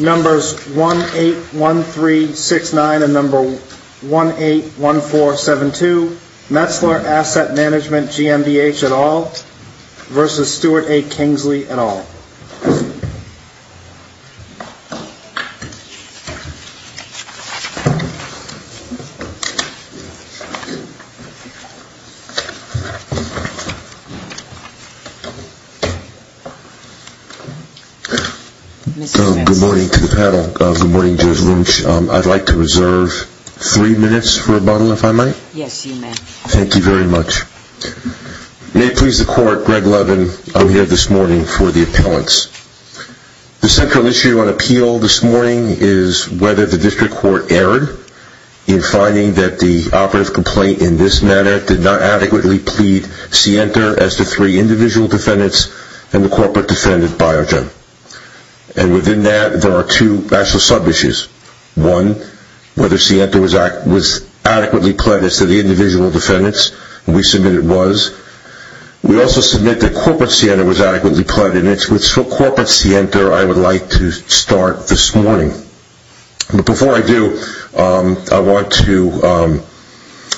Numbers 181369 and 181472, Metzler Asset Management GmbH et al. v. Stuart A. Kingsley et al. Good morning to the panel. Good morning Judge Lynch. I'd like to reserve three minutes for rebuttal if I might. Yes, you may. Thank you very much. May it please the court, Greg Lynch. The central issue on appeal this morning is whether the district court erred in finding that the operative complaint in this matter did not adequately plead Sienta as to three individual defendants and the corporate defendant Biogen. And within that there are two actual sub-issues. One, whether Sienta was adequately pledged as to the individual defendants. We submit it was. We also submit that corporate Sienta was adequately pledged. And it's with corporate Sienta I would like to start this morning. But before I do, I want to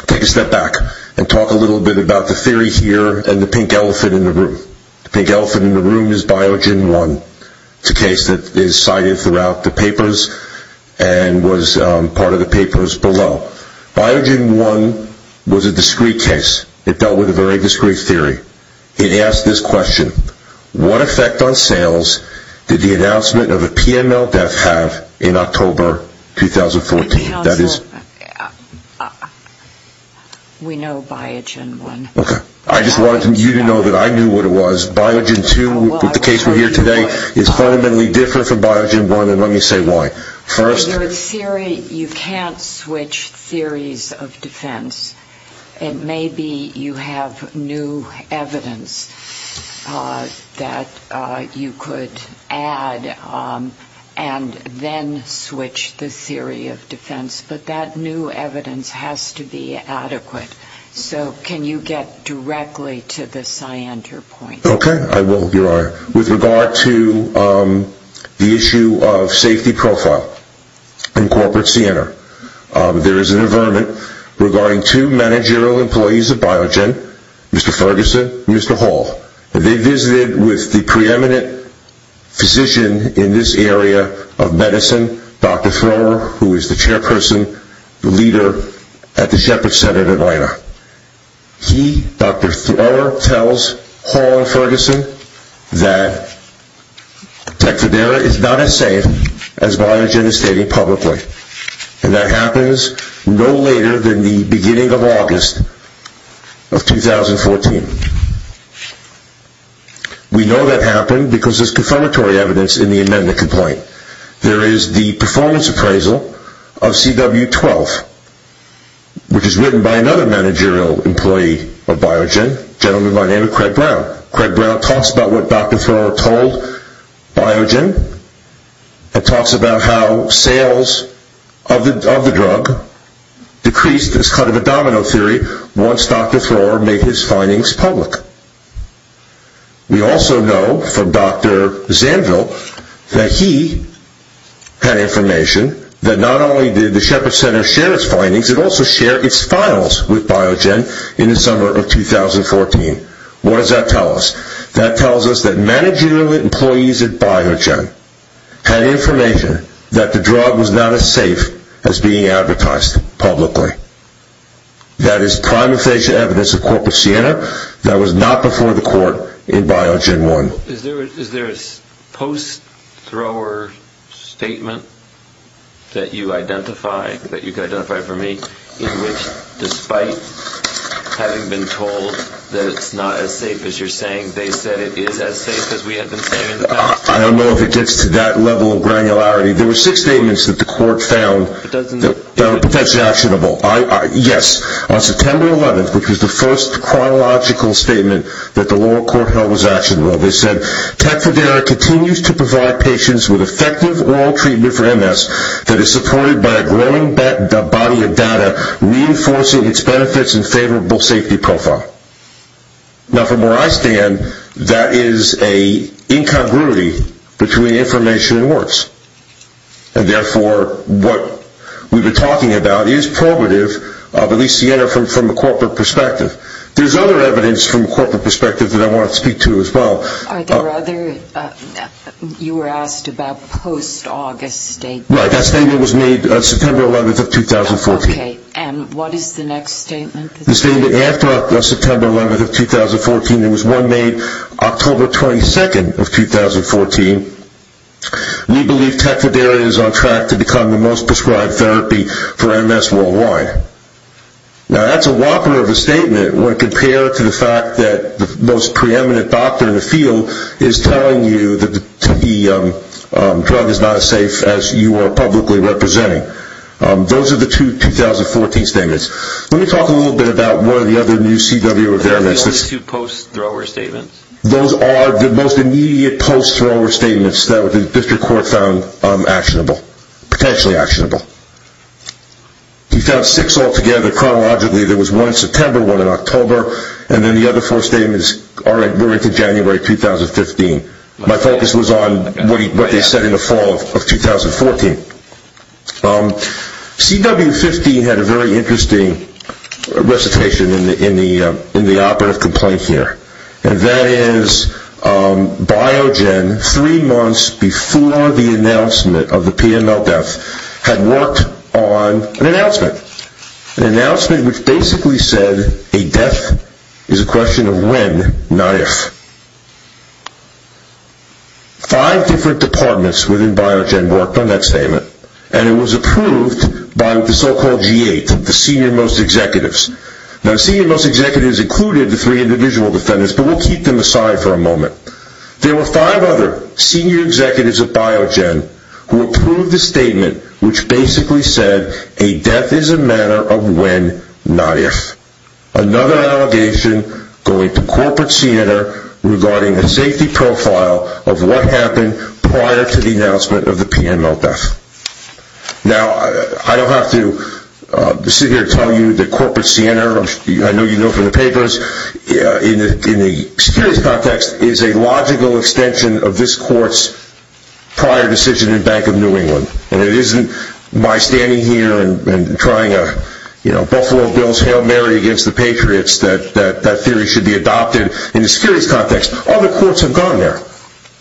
take a step back and talk a little bit about the theory here and the pink elephant in the room. The pink elephant in the room is Biogen 1. It's a case that is cited throughout the papers and was part of the papers below. Biogen 1 was a discreet case. It dealt with a very discreet theory. It asked this question. What effect on sales did the announcement of a PML theft have in October 2014? We know Biogen 1. I just wanted you to know that I knew what it was. Biogen 2, the case we're here today, is fundamentally different from that. First... So your theory, you can't switch theories of defense. Maybe you have new evidence that you could add and then switch the theory of defense. But that new evidence has to be adequate. So can you get directly to the Sienta point? Okay, I will. With regard to the issue of safety profile in corporate Sienta, there is an averment regarding two managerial employees of Biogen, Mr. Ferguson and Mr. Hall. They visited with the preeminent physician in this area of medicine, Dr. Thrower, who is the that Tecfidera is not as safe as Biogen is stating publicly. And that happens no later than the beginning of August of 2014. We know that happened because there's confirmatory evidence in the amendment complaint. There is the performance appraisal of CW-12, which Dr. Thrower told Biogen. It talks about how sales of the drug decreased as kind of a domino theory once Dr. Thrower made his findings public. We also know from Dr. Zanville that he had information that not only did the Shepherd Center share its findings, it also shared its files with Biogen in the summer of 2014. What does that tell us? That tells us that managerial employees at Biogen had information that the drug was not as safe as being advertised publicly. That is prime official evidence of corporate Sienta that was not before the court in Biogen 1. So is there a post-Thrower statement that you identify, that you can identify for me, in which despite having been told that it's not as safe as you're saying, they said it is as safe as we have been saying in the past? I don't know if it gets to that level of granularity. There were six statements that the court found that were potentially actionable. Yes, on September 11th, which was the first chronological statement that the lower court held was actionable, they said, Tecfidera continues to provide patients with effective oral treatment for MS that is supported by a growing body of data reinforcing its benefits and favorable safety profile. Now from where I stand, that is a incongruity between information and words. And therefore, what we've been talking about is probative of at least Sienta from a corporate perspective. There's other evidence from a corporate perspective that I want to speak to as well. Are there other, you were asked about post-August statements. Right, that statement was made September 11th of 2014. Okay, and what is the next statement? The statement after September 11th of 2014, there was one made October 22nd of 2014. We believe Tecfidera is on track to become the most prescribed therapy for MS worldwide. Now that's a whopper of a statement when compared to the fact that the most preeminent doctor in the field is telling you that the drug is not as safe as you are publicly representing. Those are the two 2014 statements. Let me talk a little bit about one of the other new CW Are those the only two post-thrower statements? Those are the most immediate post-thrower statements that the district court found actionable, potentially actionable. We found six altogether chronologically. There was one in September, one in October, and then the other four statements were into January 2015. My focus was on what they said in the fall of 2014. CW15 had a very interesting recitation in the operative complaint here, and that is Biogen, three months before the announcement of the PML death, had worked on an announcement. An announcement which basically said a death is a question of when, not if. Five different departments within Biogen worked on that statement, and it was approved by the so-called G8, the senior-most executives. Now the senior-most executives included the three individual defendants, but we'll keep them aside for a moment. There were five other senior executives of Biogen who approved the statement which basically said a death is a matter of when, not if. Another allegation going to Corporate Siena regarding the safety profile of what happened prior to the announcement of the PML death. Now I don't have to sit here and tell you that Corporate Siena, I know you know from the papers, in the security context, is a logical extension of this court's prior decision in Bank of New England. And it isn't my standing here and trying a Buffalo Bills Hail Mary against the Patriots that that theory should be adopted in the security context. Other courts have gone there.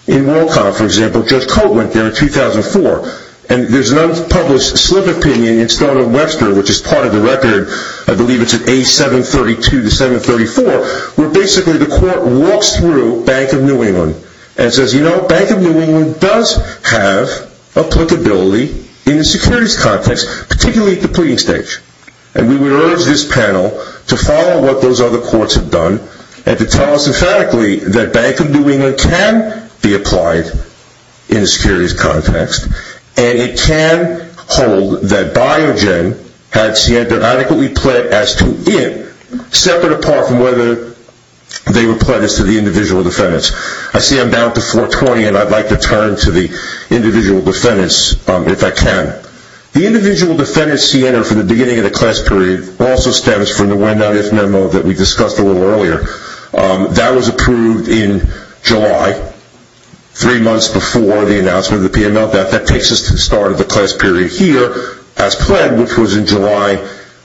In WorldCom, for example, Judge Cote went there in 2004, and there's an unpublished slip opinion in Stone and Webster, which is part of the record, I believe it's at A732-734, where basically the court walks through Bank of New England and says, you know, Bank of New England does have applicability in the securities context, particularly at the pleading stage. And we would urge this panel to follow what those other courts have done and to tell us emphatically that Bank of New England can be applied in a securities context and it can hold that Biogen had Siena adequately pled as to it, separate apart from whether they were pled as to the individual defendants. I see I'm down to 420, and I'd like to turn to the individual defendants if I can. The individual defendants Siena for the beginning of the class period also stems from the when not if memo that we discussed a little earlier. That was approved in July, three months before the announcement of the PMO. That takes us to the start of the class period here as pled, which was in July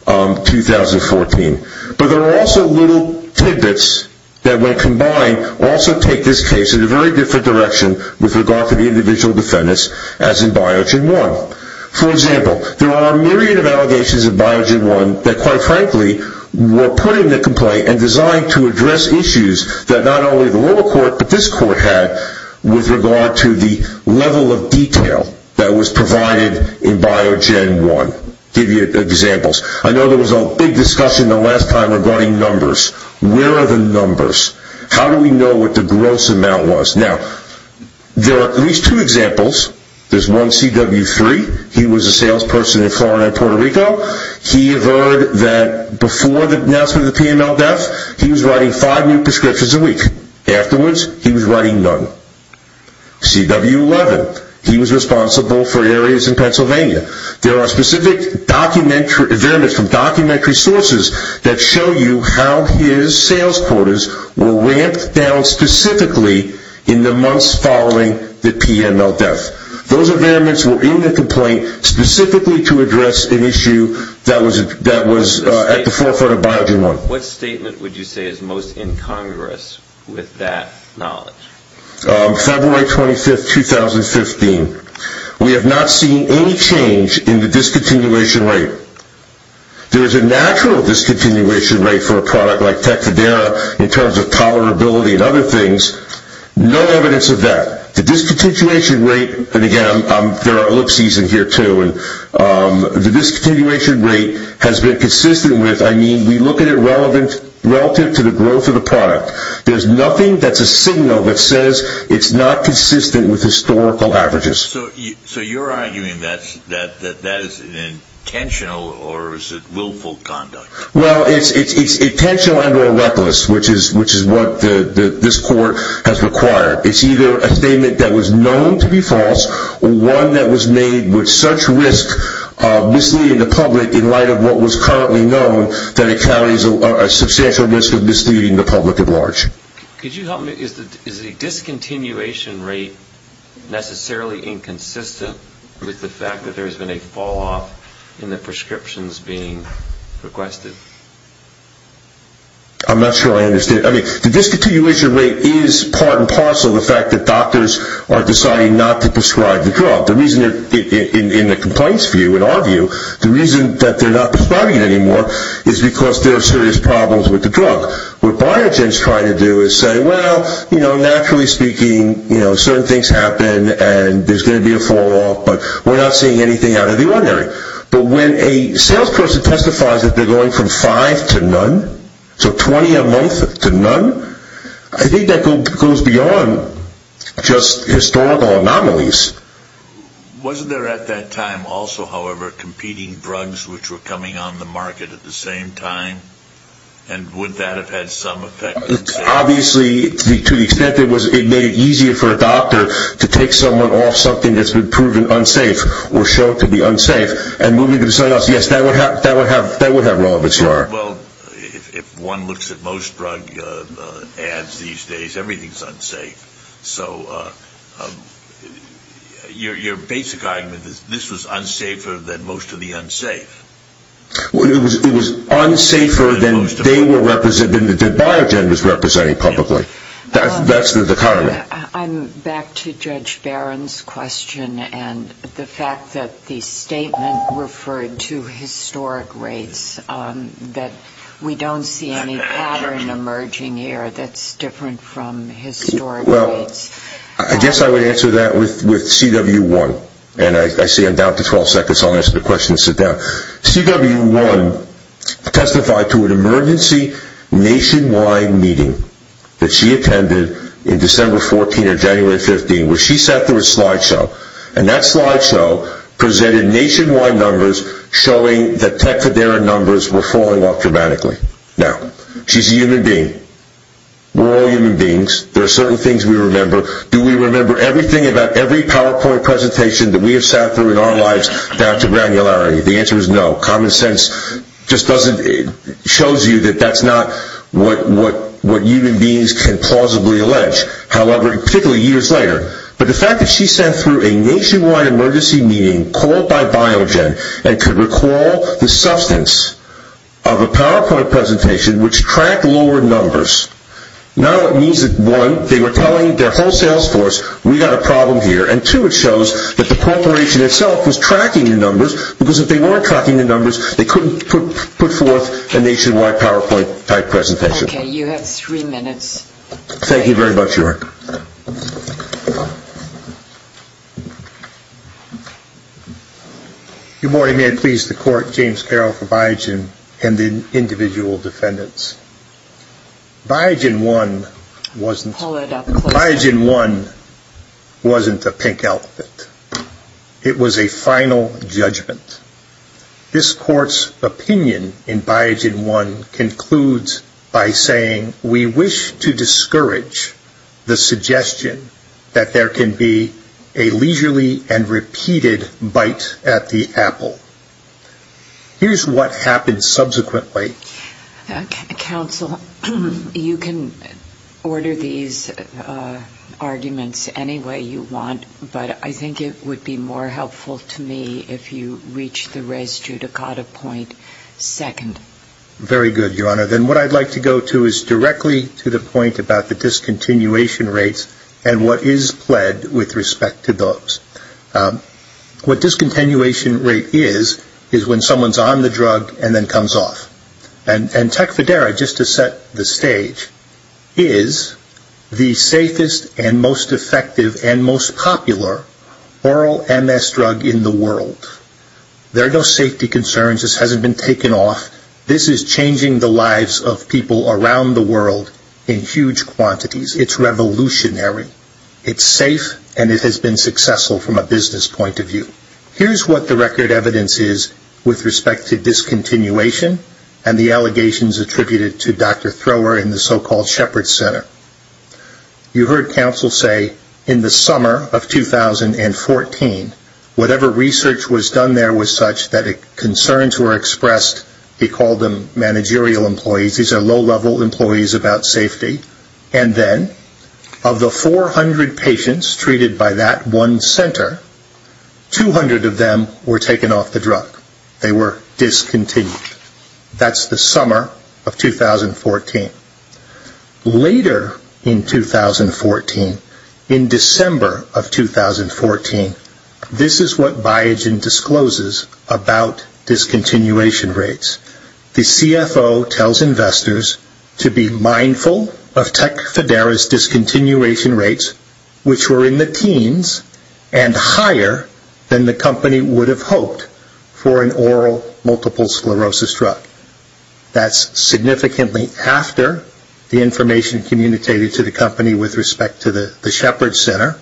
2014. But there are also little tidbits that when combined also take this case in a very different direction with regard to the individual defendants as in Biogen 1. For example, there are a myriad of allegations in Biogen 1 that quite frankly were put in the complaint and designed to address issues that not only the lower court but this court had with regard to the level of detail that was provided in Biogen 1. I'll give you examples. I know there was a big discussion the last time regarding numbers. Where are the numbers? How do we know what the gross amount was? Now, there are at least two examples. There's one CW3. He was a salesperson in Florida and Puerto Rico. He heard that before the announcement of the PMO death, he was writing five new prescriptions a week. Afterwards, he was writing none. CW11, he was responsible for areas in Pennsylvania. There are specific documents from documentary sources that show you how his sales quarters were ramped down specifically in the months following the PMO death. Those amendments were in the complaint specifically to address an issue that was at the forefront of Biogen 1. What statement would you say is most in Congress with that knowledge? February 25, 2015. We have not seen any change in the discontinuation rate. There is a natural discontinuation rate for a product like Tecfidera in terms of tolerability and other things. No evidence of that. The discontinuation rate, and again, there are ellipses in here too. The discontinuation rate has been consistent with, I mean, we look at it relative to the growth of the product. There's nothing that's a signal that says it's not consistent with historical averages. So you're arguing that that is intentional or is it willful conduct? Well, it's intentional and or reckless, which is what this court has required. It's either a statement that was known to be false, or one that was made with such risk of misleading the public in light of what was currently known that it carries a substantial risk of misleading the public at large. Could you help me? Is the discontinuation rate necessarily inconsistent with the fact that there has been a fall off in the prescriptions being requested? I'm not sure I understand. I mean, the discontinuation rate is part and parcel of the fact that doctors are deciding not to prescribe the drug. In the complaints view, in our view, the reason that they're not prescribing it anymore is because there are serious problems with the drug. What Biogen is trying to do is say, well, you know, naturally speaking, certain things happen and there's going to be a fall off, but we're not seeing anything out of the ordinary. But when a sales person testifies that they're going from five to none, so 20 a month to none, I think that goes beyond just historical anomalies. Wasn't there at that time also, however, competing drugs which were coming on the market at the same time? And would that have had some effect? Obviously, to the extent that it made it easier for a doctor to take someone off something that's been proven unsafe or shown to be unsafe and move them to something else, yes, that would have relevance there. Well, if one looks at most drug ads these days, everything's unsafe. So your basic argument is this was unsafer than most of the unsafe. It was unsafer than they were representing, than Biogen was representing publicly. That's the dichotomy. I'm back to Judge Barron's question and the fact that the statement referred to historic rates, that we don't see any pattern emerging here that's different from historic rates. I guess I would answer that with CW1. And I see I'm down to 12 seconds, so I'll answer the question and sit down. CW1 testified to an emergency nationwide meeting that she attended in December 14 or January 15, where she sat through a slideshow. And that slideshow presented nationwide numbers showing that Tecfidera numbers were falling off dramatically. Now, she's a human being. We're all human beings. There are certain things we remember. Do we remember everything about every PowerPoint presentation that we have sat through in our lives down to granularity? The answer is no. Common sense just doesn't show you that that's not what human beings can plausibly allege, particularly years later. But the fact that she sat through a nationwide emergency meeting called by Biogen and could recall the substance of a PowerPoint presentation which tracked lower numbers, not only means that, one, they were telling their whole sales force, we've got a problem here, and, two, it shows that the corporation itself was tracking the numbers because if they weren't tracking the numbers, they couldn't put forth a nationwide PowerPoint-type presentation. Okay. You have three minutes. Thank you very much, York. Good morning. May I please the court, James Carroll for Biogen and the individual defendants. Biogen 1 wasn't a pink outfit. It was a final judgment. This court's opinion in Biogen 1 concludes by saying, we wish to discourage the suggestion that there can be a leisurely and repeated bite at the apple. Here's what happened subsequently. Counsel, you can order these arguments any way you want, but I think it would be more helpful to me if you reach the res judicata point second. Very good, Your Honor. Then what I'd like to go to is directly to the point about the discontinuation rates and what is pled with respect to those. What discontinuation rate is is when someone's on the drug and then comes off. And Tecfidera, just to set the stage, is the safest and most effective and most popular oral MS drug in the world. There are no safety concerns. This hasn't been taken off. This is changing the lives of people around the world in huge quantities. It's revolutionary. It's safe, and it has been successful from a business point of view. Here's what the record evidence is with respect to discontinuation and the allegations attributed to Dr. Thrower in the so-called Shepard Center. You heard counsel say in the summer of 2014, whatever research was done there was such that concerns were expressed. He called them managerial employees. These are low-level employees about safety. And then of the 400 patients treated by that one center, 200 of them were taken off the drug. They were discontinued. That's the summer of 2014. Later in 2014, in December of 2014, this is what Biogen discloses about discontinuation rates. The CFO tells investors to be mindful of Tecfidera's discontinuation rates, which were in the teens and higher than the company would have hoped for an oral multiple sclerosis drug. That's significantly after the information communicated to the company with respect to the Shepard Center,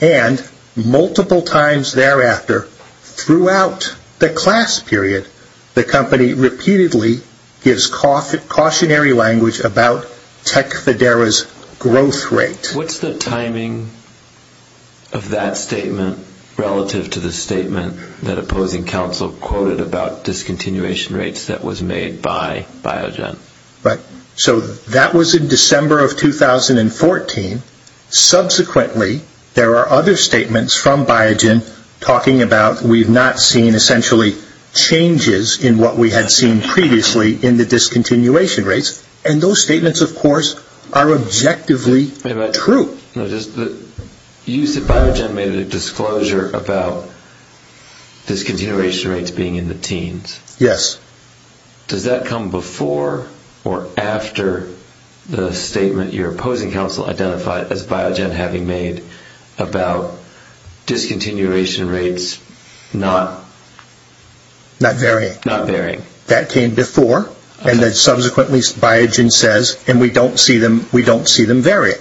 and multiple times thereafter throughout the class period, the company repeatedly gives cautionary language about Tecfidera's growth rate. What's the timing of that statement relative to the statement that opposing counsel quoted about discontinuation rates that was made by Biogen? So that was in December of 2014. Subsequently, there are other statements from Biogen talking about we've not seen essentially changes in what we had seen previously in the discontinuation rates. And those statements, of course, are objectively true. You said Biogen made a disclosure about discontinuation rates being in the teens. Yes. Does that come before or after the statement your opposing counsel identified as Biogen having made about discontinuation rates not varying? Not varying. That came before, and then subsequently Biogen says, and we don't see them varying.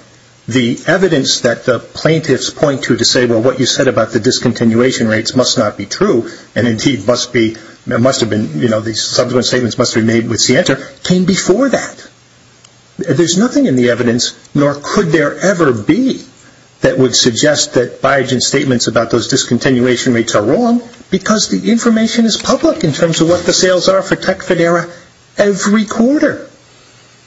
The evidence that the plaintiffs point to to say, well, what you said about the discontinuation rates must not be true, and indeed must have been, you know, these subsequent statements must have been made with Sienter, came before that. There's nothing in the evidence, nor could there ever be, that would suggest that Biogen's statements about those discontinuation rates are wrong because the information is public in terms of what the sales are for Tecfidera every quarter.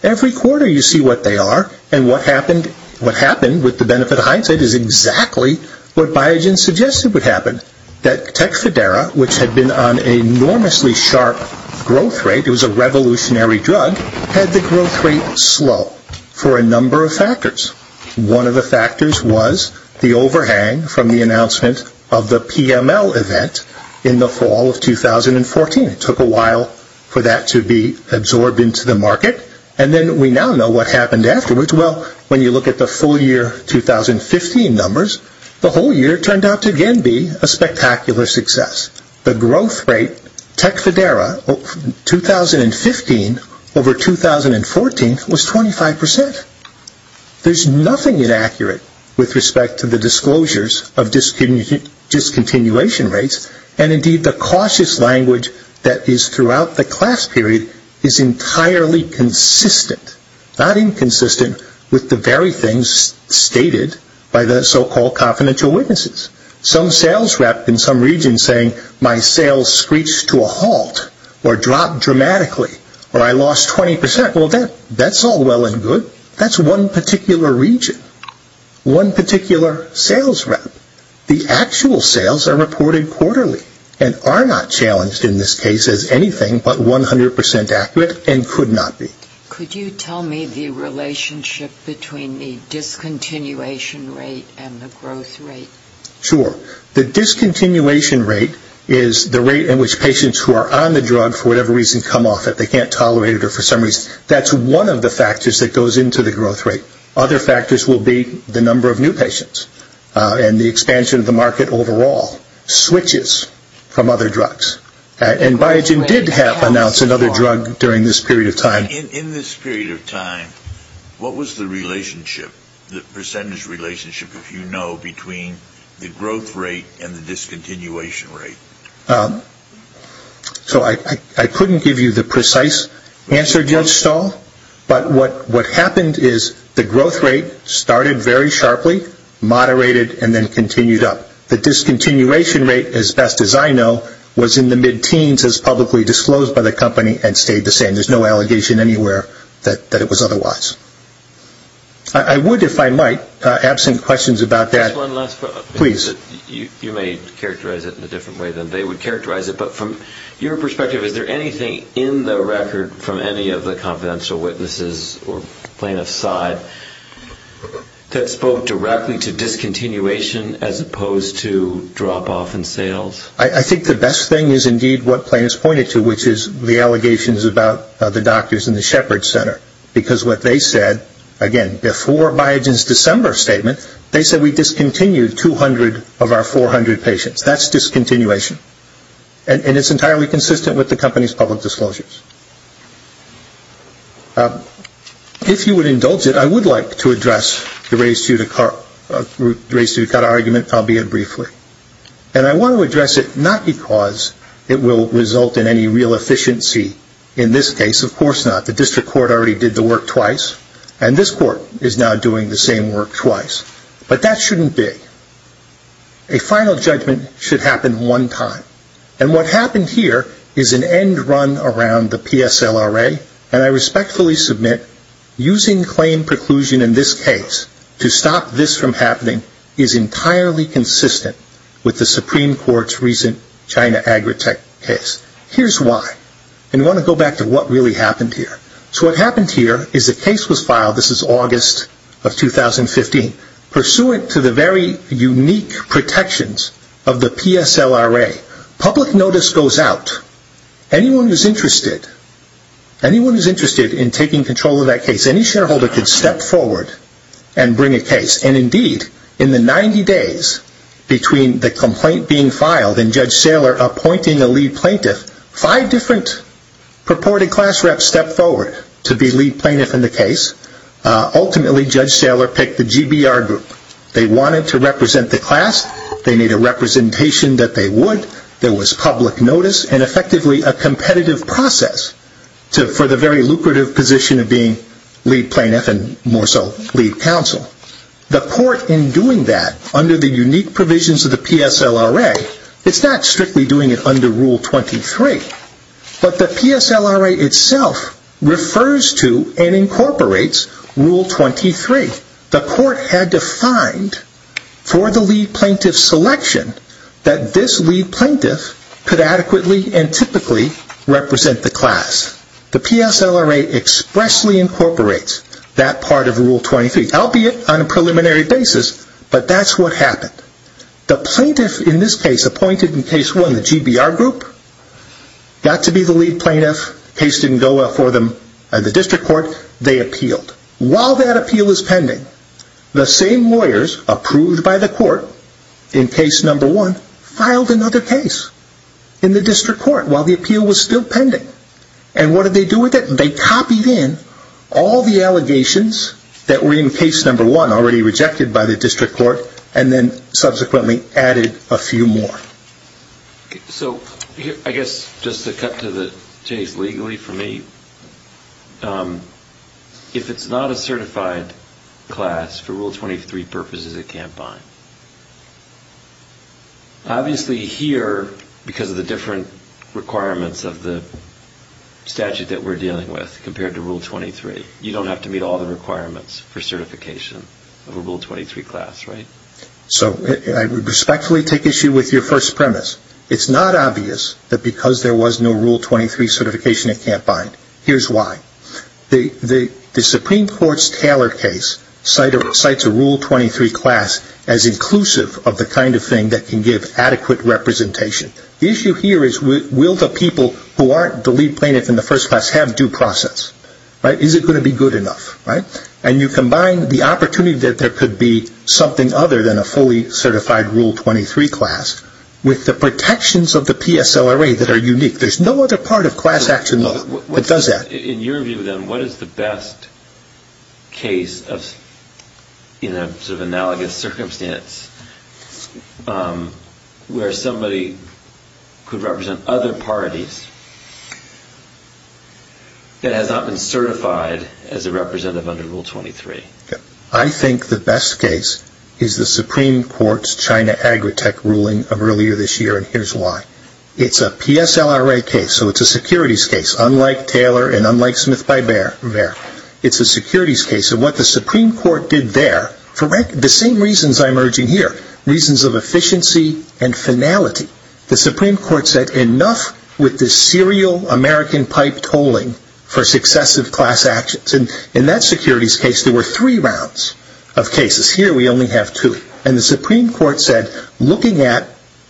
Every quarter you see what they are, and what happened with the benefit of hindsight is exactly what Biogen suggested would happen, that Tecfidera, which had been on an enormously sharp growth rate, it was a revolutionary drug, had the growth rate slow for a number of factors. One of the factors was the overhang from the announcement of the PML event in the fall of 2014. It took a while for that to be absorbed into the market, and then we now know what happened afterwards. Well, when you look at the full year 2015 numbers, the whole year turned out to again be a spectacular success. The growth rate, Tecfidera, 2015 over 2014 was 25%. There's nothing inaccurate with respect to the disclosures of discontinuation rates, and indeed the cautious language that is throughout the class period is entirely consistent, not inconsistent, with the very things stated by the so-called confidential witnesses. Some sales rep in some region saying my sales screeched to a halt, or dropped dramatically, or I lost 20%. Well, that's all well and good. That's one particular region, one particular sales rep. The actual sales are reported quarterly and are not challenged in this case as anything but 100% accurate and could not be. Could you tell me the relationship between the discontinuation rate and the growth rate? Sure. The discontinuation rate is the rate in which patients who are on the drug for whatever reason come off it. They can't tolerate it for some reason. That's one of the factors that goes into the growth rate. Other factors will be the number of new patients and the expansion of the market overall switches from other drugs. And Biogen did have announced another drug during this period of time. In this period of time, what was the relationship, the percentage relationship, if you know, between the growth rate and the discontinuation rate? So I couldn't give you the precise answer, Judge Stahl. But what happened is the growth rate started very sharply, moderated, and then continued up. The discontinuation rate, as best as I know, was in the mid-teens as publicly disclosed by the company and stayed the same. There's no allegation anywhere that it was otherwise. I would, if I might, absent questions about that. Just one last question. Please. You may characterize it in a different way than they would characterize it. But from your perspective, is there anything in the record from any of the confidential witnesses or plaintiffs' side that spoke directly to discontinuation as opposed to drop-off in sales? I think the best thing is indeed what plaintiffs pointed to, which is the allegations about the doctors in the Shepherd Center. Because what they said, again, before Biogen's December statement, they said, we discontinued 200 of our 400 patients. That's discontinuation. And it's entirely consistent with the company's public disclosures. If you would indulge it, I would like to address the race to cut argument, albeit briefly. And I want to address it not because it will result in any real efficiency in this case. Of course not. The district court already did the work twice. And this court is now doing the same work twice. But that shouldn't be. A final judgment should happen one time. And what happened here is an end run around the PSLRA. And I respectfully submit using claim preclusion in this case to stop this from happening is entirely consistent with the Supreme Court's recent China Agritech case. Here's why. And I want to go back to what really happened here. So what happened here is the case was filed, this is August of 2015, pursuant to the very unique protections of the PSLRA. Public notice goes out. Anyone who's interested, anyone who's interested in taking control of that case, any shareholder can step forward and bring a case. And indeed, in the 90 days between the complaint being filed and Judge Saylor appointing a lead plaintiff, five different purported class reps stepped forward to be lead plaintiff in the case. Ultimately, Judge Saylor picked the GBR group. They wanted to represent the class. They needed a representation that they would. There was public notice and effectively a competitive process for the very lucrative position of being lead plaintiff and more so lead counsel. The court in doing that under the unique provisions of the PSLRA, it's not strictly doing it under Rule 23, but the PSLRA itself refers to and incorporates Rule 23. The court had defined for the lead plaintiff selection that this lead plaintiff could adequately and typically represent the class. The PSLRA expressly incorporates that part of Rule 23, albeit on a preliminary basis, but that's what happened. The plaintiff in this case appointed in case one, the GBR group, got to be the lead plaintiff. Case didn't go well for them at the district court. They appealed. While that appeal was pending, the same lawyers approved by the court in case number one filed another case in the district court while the appeal was still pending. And what did they do with it? They copied in all the allegations that were in case number one already rejected by the district court and then subsequently added a few more. So I guess just to cut to the chase legally for me, if it's not a certified class, for Rule 23 purposes it can't bind. Obviously here, because of the different requirements of the statute that we're dealing with compared to Rule 23, you don't have to meet all the requirements for certification of a Rule 23 class, right? So I respectfully take issue with your first premise. It's not obvious that because there was no Rule 23 certification it can't bind. Here's why. The Supreme Court's Taylor case cites a Rule 23 class as inclusive of the kind of thing that can give adequate representation. The issue here is will the people who aren't the lead plaintiff in the first class have due process? Is it going to be good enough? And you combine the opportunity that there could be something other than a fully certified Rule 23 class with the protections of the PSLRA that are unique. There's no other part of class action that does that. In your view, then, what is the best case in a sort of analogous circumstance where somebody could represent other parties that has not been certified as a representative under Rule 23? I think the best case is the Supreme Court's China Agritech ruling of earlier this year, and here's why. It's a PSLRA case, so it's a securities case, unlike Taylor and unlike Smith by Bear. It's a securities case. And what the Supreme Court did there, for the same reasons I'm urging here, reasons of efficiency and finality, the Supreme Court said enough with this serial American pipe tolling for successive class actions. And in that securities case there were three rounds of cases. Here we only have two. And the Supreme Court said, looking at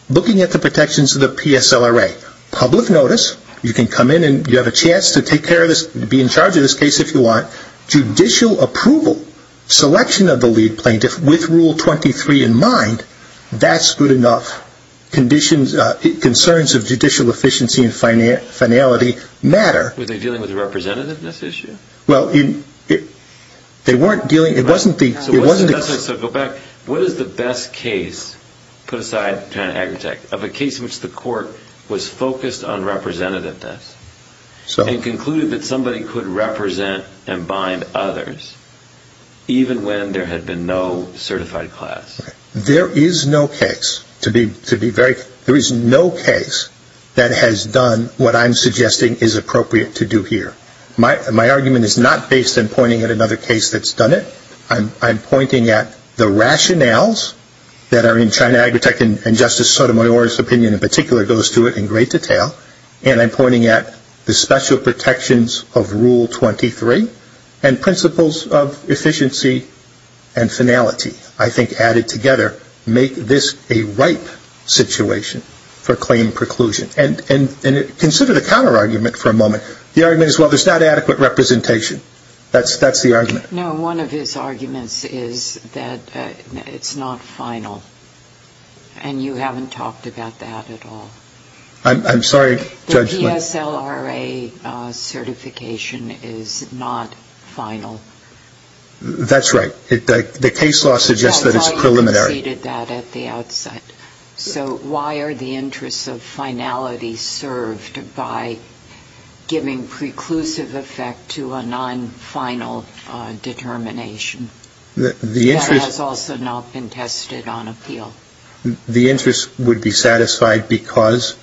the protections of the PSLRA, public notice, you can come in and you have a chance to take care of this, be in charge of this case if you want. Judicial approval, selection of the lead plaintiff with Rule 23 in mind, that's good enough. Concerns of judicial efficiency and finality matter. Were they dealing with a representative in this issue? Well, they weren't dealing, it wasn't the... So go back, what is the best case, put aside China Agritech, of a case in which the court was focused on representativeness and concluded that somebody could represent and bind others, even when there had been no certified class? There is no case to be very, there is no case that has done what I'm suggesting is appropriate to do here. My argument is not based in pointing at another case that's done it. I'm pointing at the rationales that are in China Agritech and Justice Sotomayor's opinion in particular goes to it in great detail. And I'm pointing at the special protections of Rule 23 and principles of efficiency and finality, I think added together, make this a ripe situation for claim preclusion. The argument is, well, there's not adequate representation, that's the argument. No, one of his arguments is that it's not final. And you haven't talked about that at all. I'm sorry, Judge. The PSLRA certification is not final. That's right. The case law suggests that it's preliminary. I thought you conceded that at the outset. So why are the interests of finality served by giving preclusive effect to a non-final determination? That has also not been tested on appeal. The interest would be satisfied because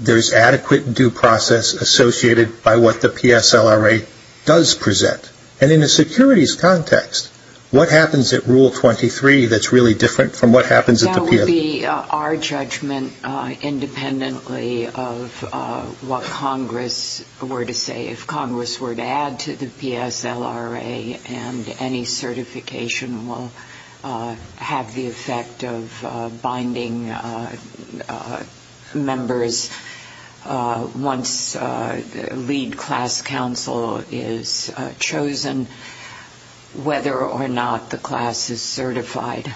there's adequate due process associated by what the PSLRA does present. And in a securities context, what happens at Rule 23 that's really different from what happens at the PSLRA? It would be our judgment independently of what Congress were to say. If Congress were to add to the PSLRA and any certification will have the effect of binding members once lead class counsel is chosen, whether or not the class is certified.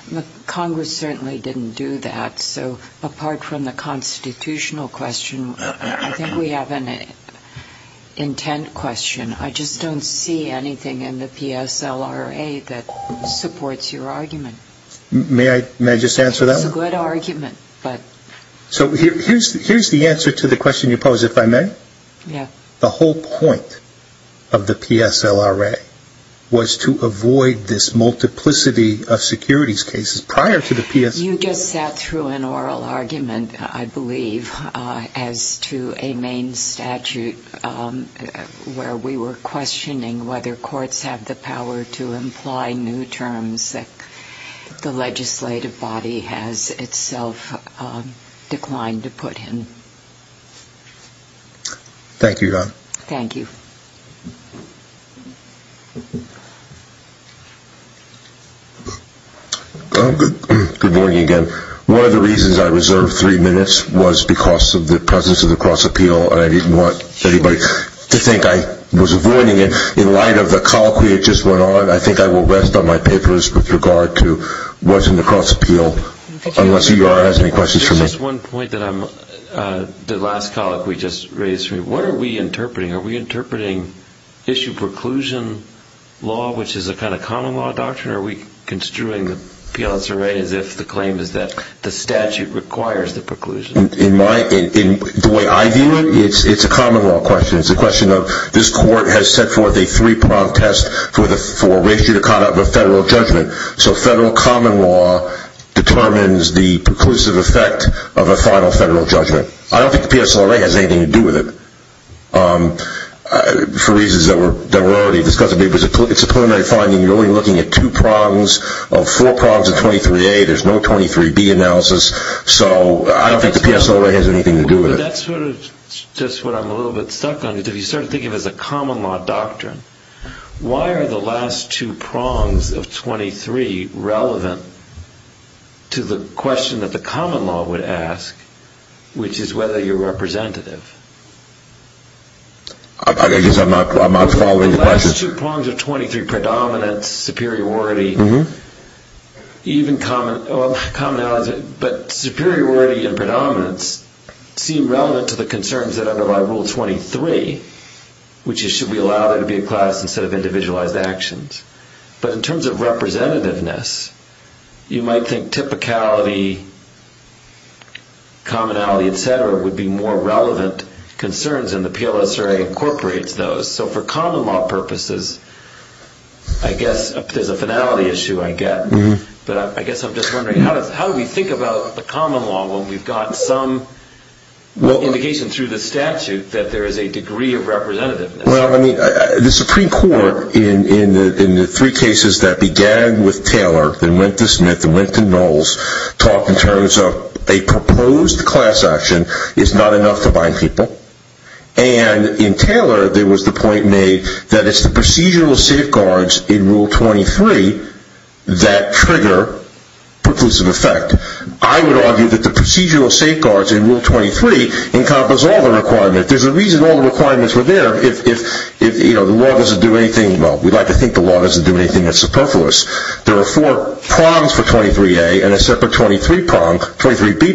Congress certainly didn't do that. So apart from the constitutional question, I think we have an intent question. I just don't see anything in the PSLRA that supports your argument. May I just answer that one? It's a good argument. So here's the answer to the question you posed, if I may. Yeah. The whole point of the PSLRA was to avoid this multiplicity of securities cases prior to the PSLRA. You just sat through an oral argument, I believe, as to a main statute where we were questioning whether courts have the power to imply new terms that the legislative body has itself declined to put in. Thank you, Don. Thank you. Good morning again. One of the reasons I reserved three minutes was because of the presence of the cross-appeal, and I didn't want anybody to think I was avoiding it. In light of the colloquy that just went on, I think I will rest on my papers with regard to what's in the cross-appeal, unless UR has any questions for me. Just one point that the last colloquy just raised for me. What are we interpreting? Are we interpreting issue preclusion law, which is a kind of common law doctrine, or are we construing the PSLRA as if the claim is that the statute requires the preclusion? In the way I view it, it's a common law question. It's a question of this court has set forth a three-prong test for ratio to conduct a federal judgment. So federal common law determines the preclusive effect of a final federal judgment. I don't think the PSLRA has anything to do with it for reasons that were already discussed. It's a preliminary finding. You're only looking at two prongs of four prongs of 23A. There's no 23B analysis. So I don't think the PSLRA has anything to do with it. That's sort of just what I'm a little bit stuck on. If you start thinking of it as a common law doctrine, why are the last two prongs of 23 relevant to the question that the common law would ask, which is whether you're representative? I guess I'm not following the question. The last two prongs of 23, predominance, superiority, even commonality, but superiority and predominance seem relevant to the concerns that underlie rule 23, which is should we allow there to be a class instead of individualized actions. But in terms of representativeness, you might think typicality, commonality, et cetera, would be more relevant concerns, and the PLSRA incorporates those. So for common law purposes, I guess there's a finality issue I get. But I guess I'm just wondering, how do we think about the common law when we've got some indication through the statute that there is a degree of representativeness? The Supreme Court, in the three cases that began with Taylor, that went to Smith, that went to Knowles, talked in terms of a proposed class action is not enough to bind people. And in Taylor, there was the point made that it's the procedural safeguards in rule 23 that trigger preclusive effect. I would argue that the procedural safeguards in rule 23 encompass all the requirements. There's a reason all the requirements were there. If the law doesn't do anything, well, we'd like to think the law doesn't do anything that's superfluous. There are four prongs for 23A and a separate 23B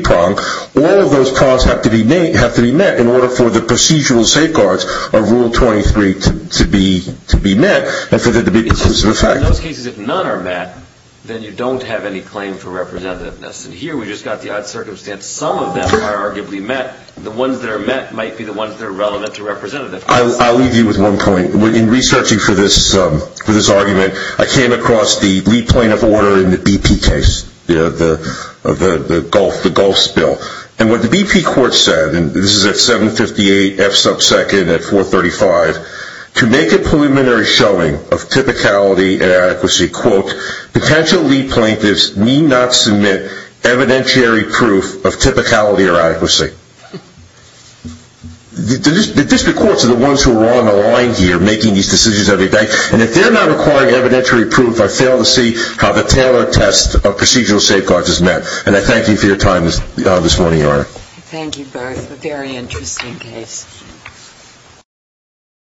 prong. All of those prongs have to be met in order for the procedural safeguards of rule 23 to be met and for there to be preclusive effect. And in those cases, if none are met, then you don't have any claim for representativeness. And here we've just got the odd circumstance. Some of them are arguably met. The ones that are met might be the ones that are relevant to representative cases. I'll leave you with one point. In researching for this argument, I came across the lead plaintiff order in the BP case, the Gulf spill. And what the BP court said, and this is at 758 F sub 2nd at 435, to make a preliminary showing of typicality and adequacy, quote, potential lead plaintiffs need not submit evidentiary proof of typicality or adequacy. The district courts are the ones who are on the line here making these decisions every day. And if they're not acquiring evidentiary proof, I fail to see how the tailored test of procedural safeguards is met. And I thank you for your time this morning, Your Honor. Thank you both. A very interesting case. Thank you.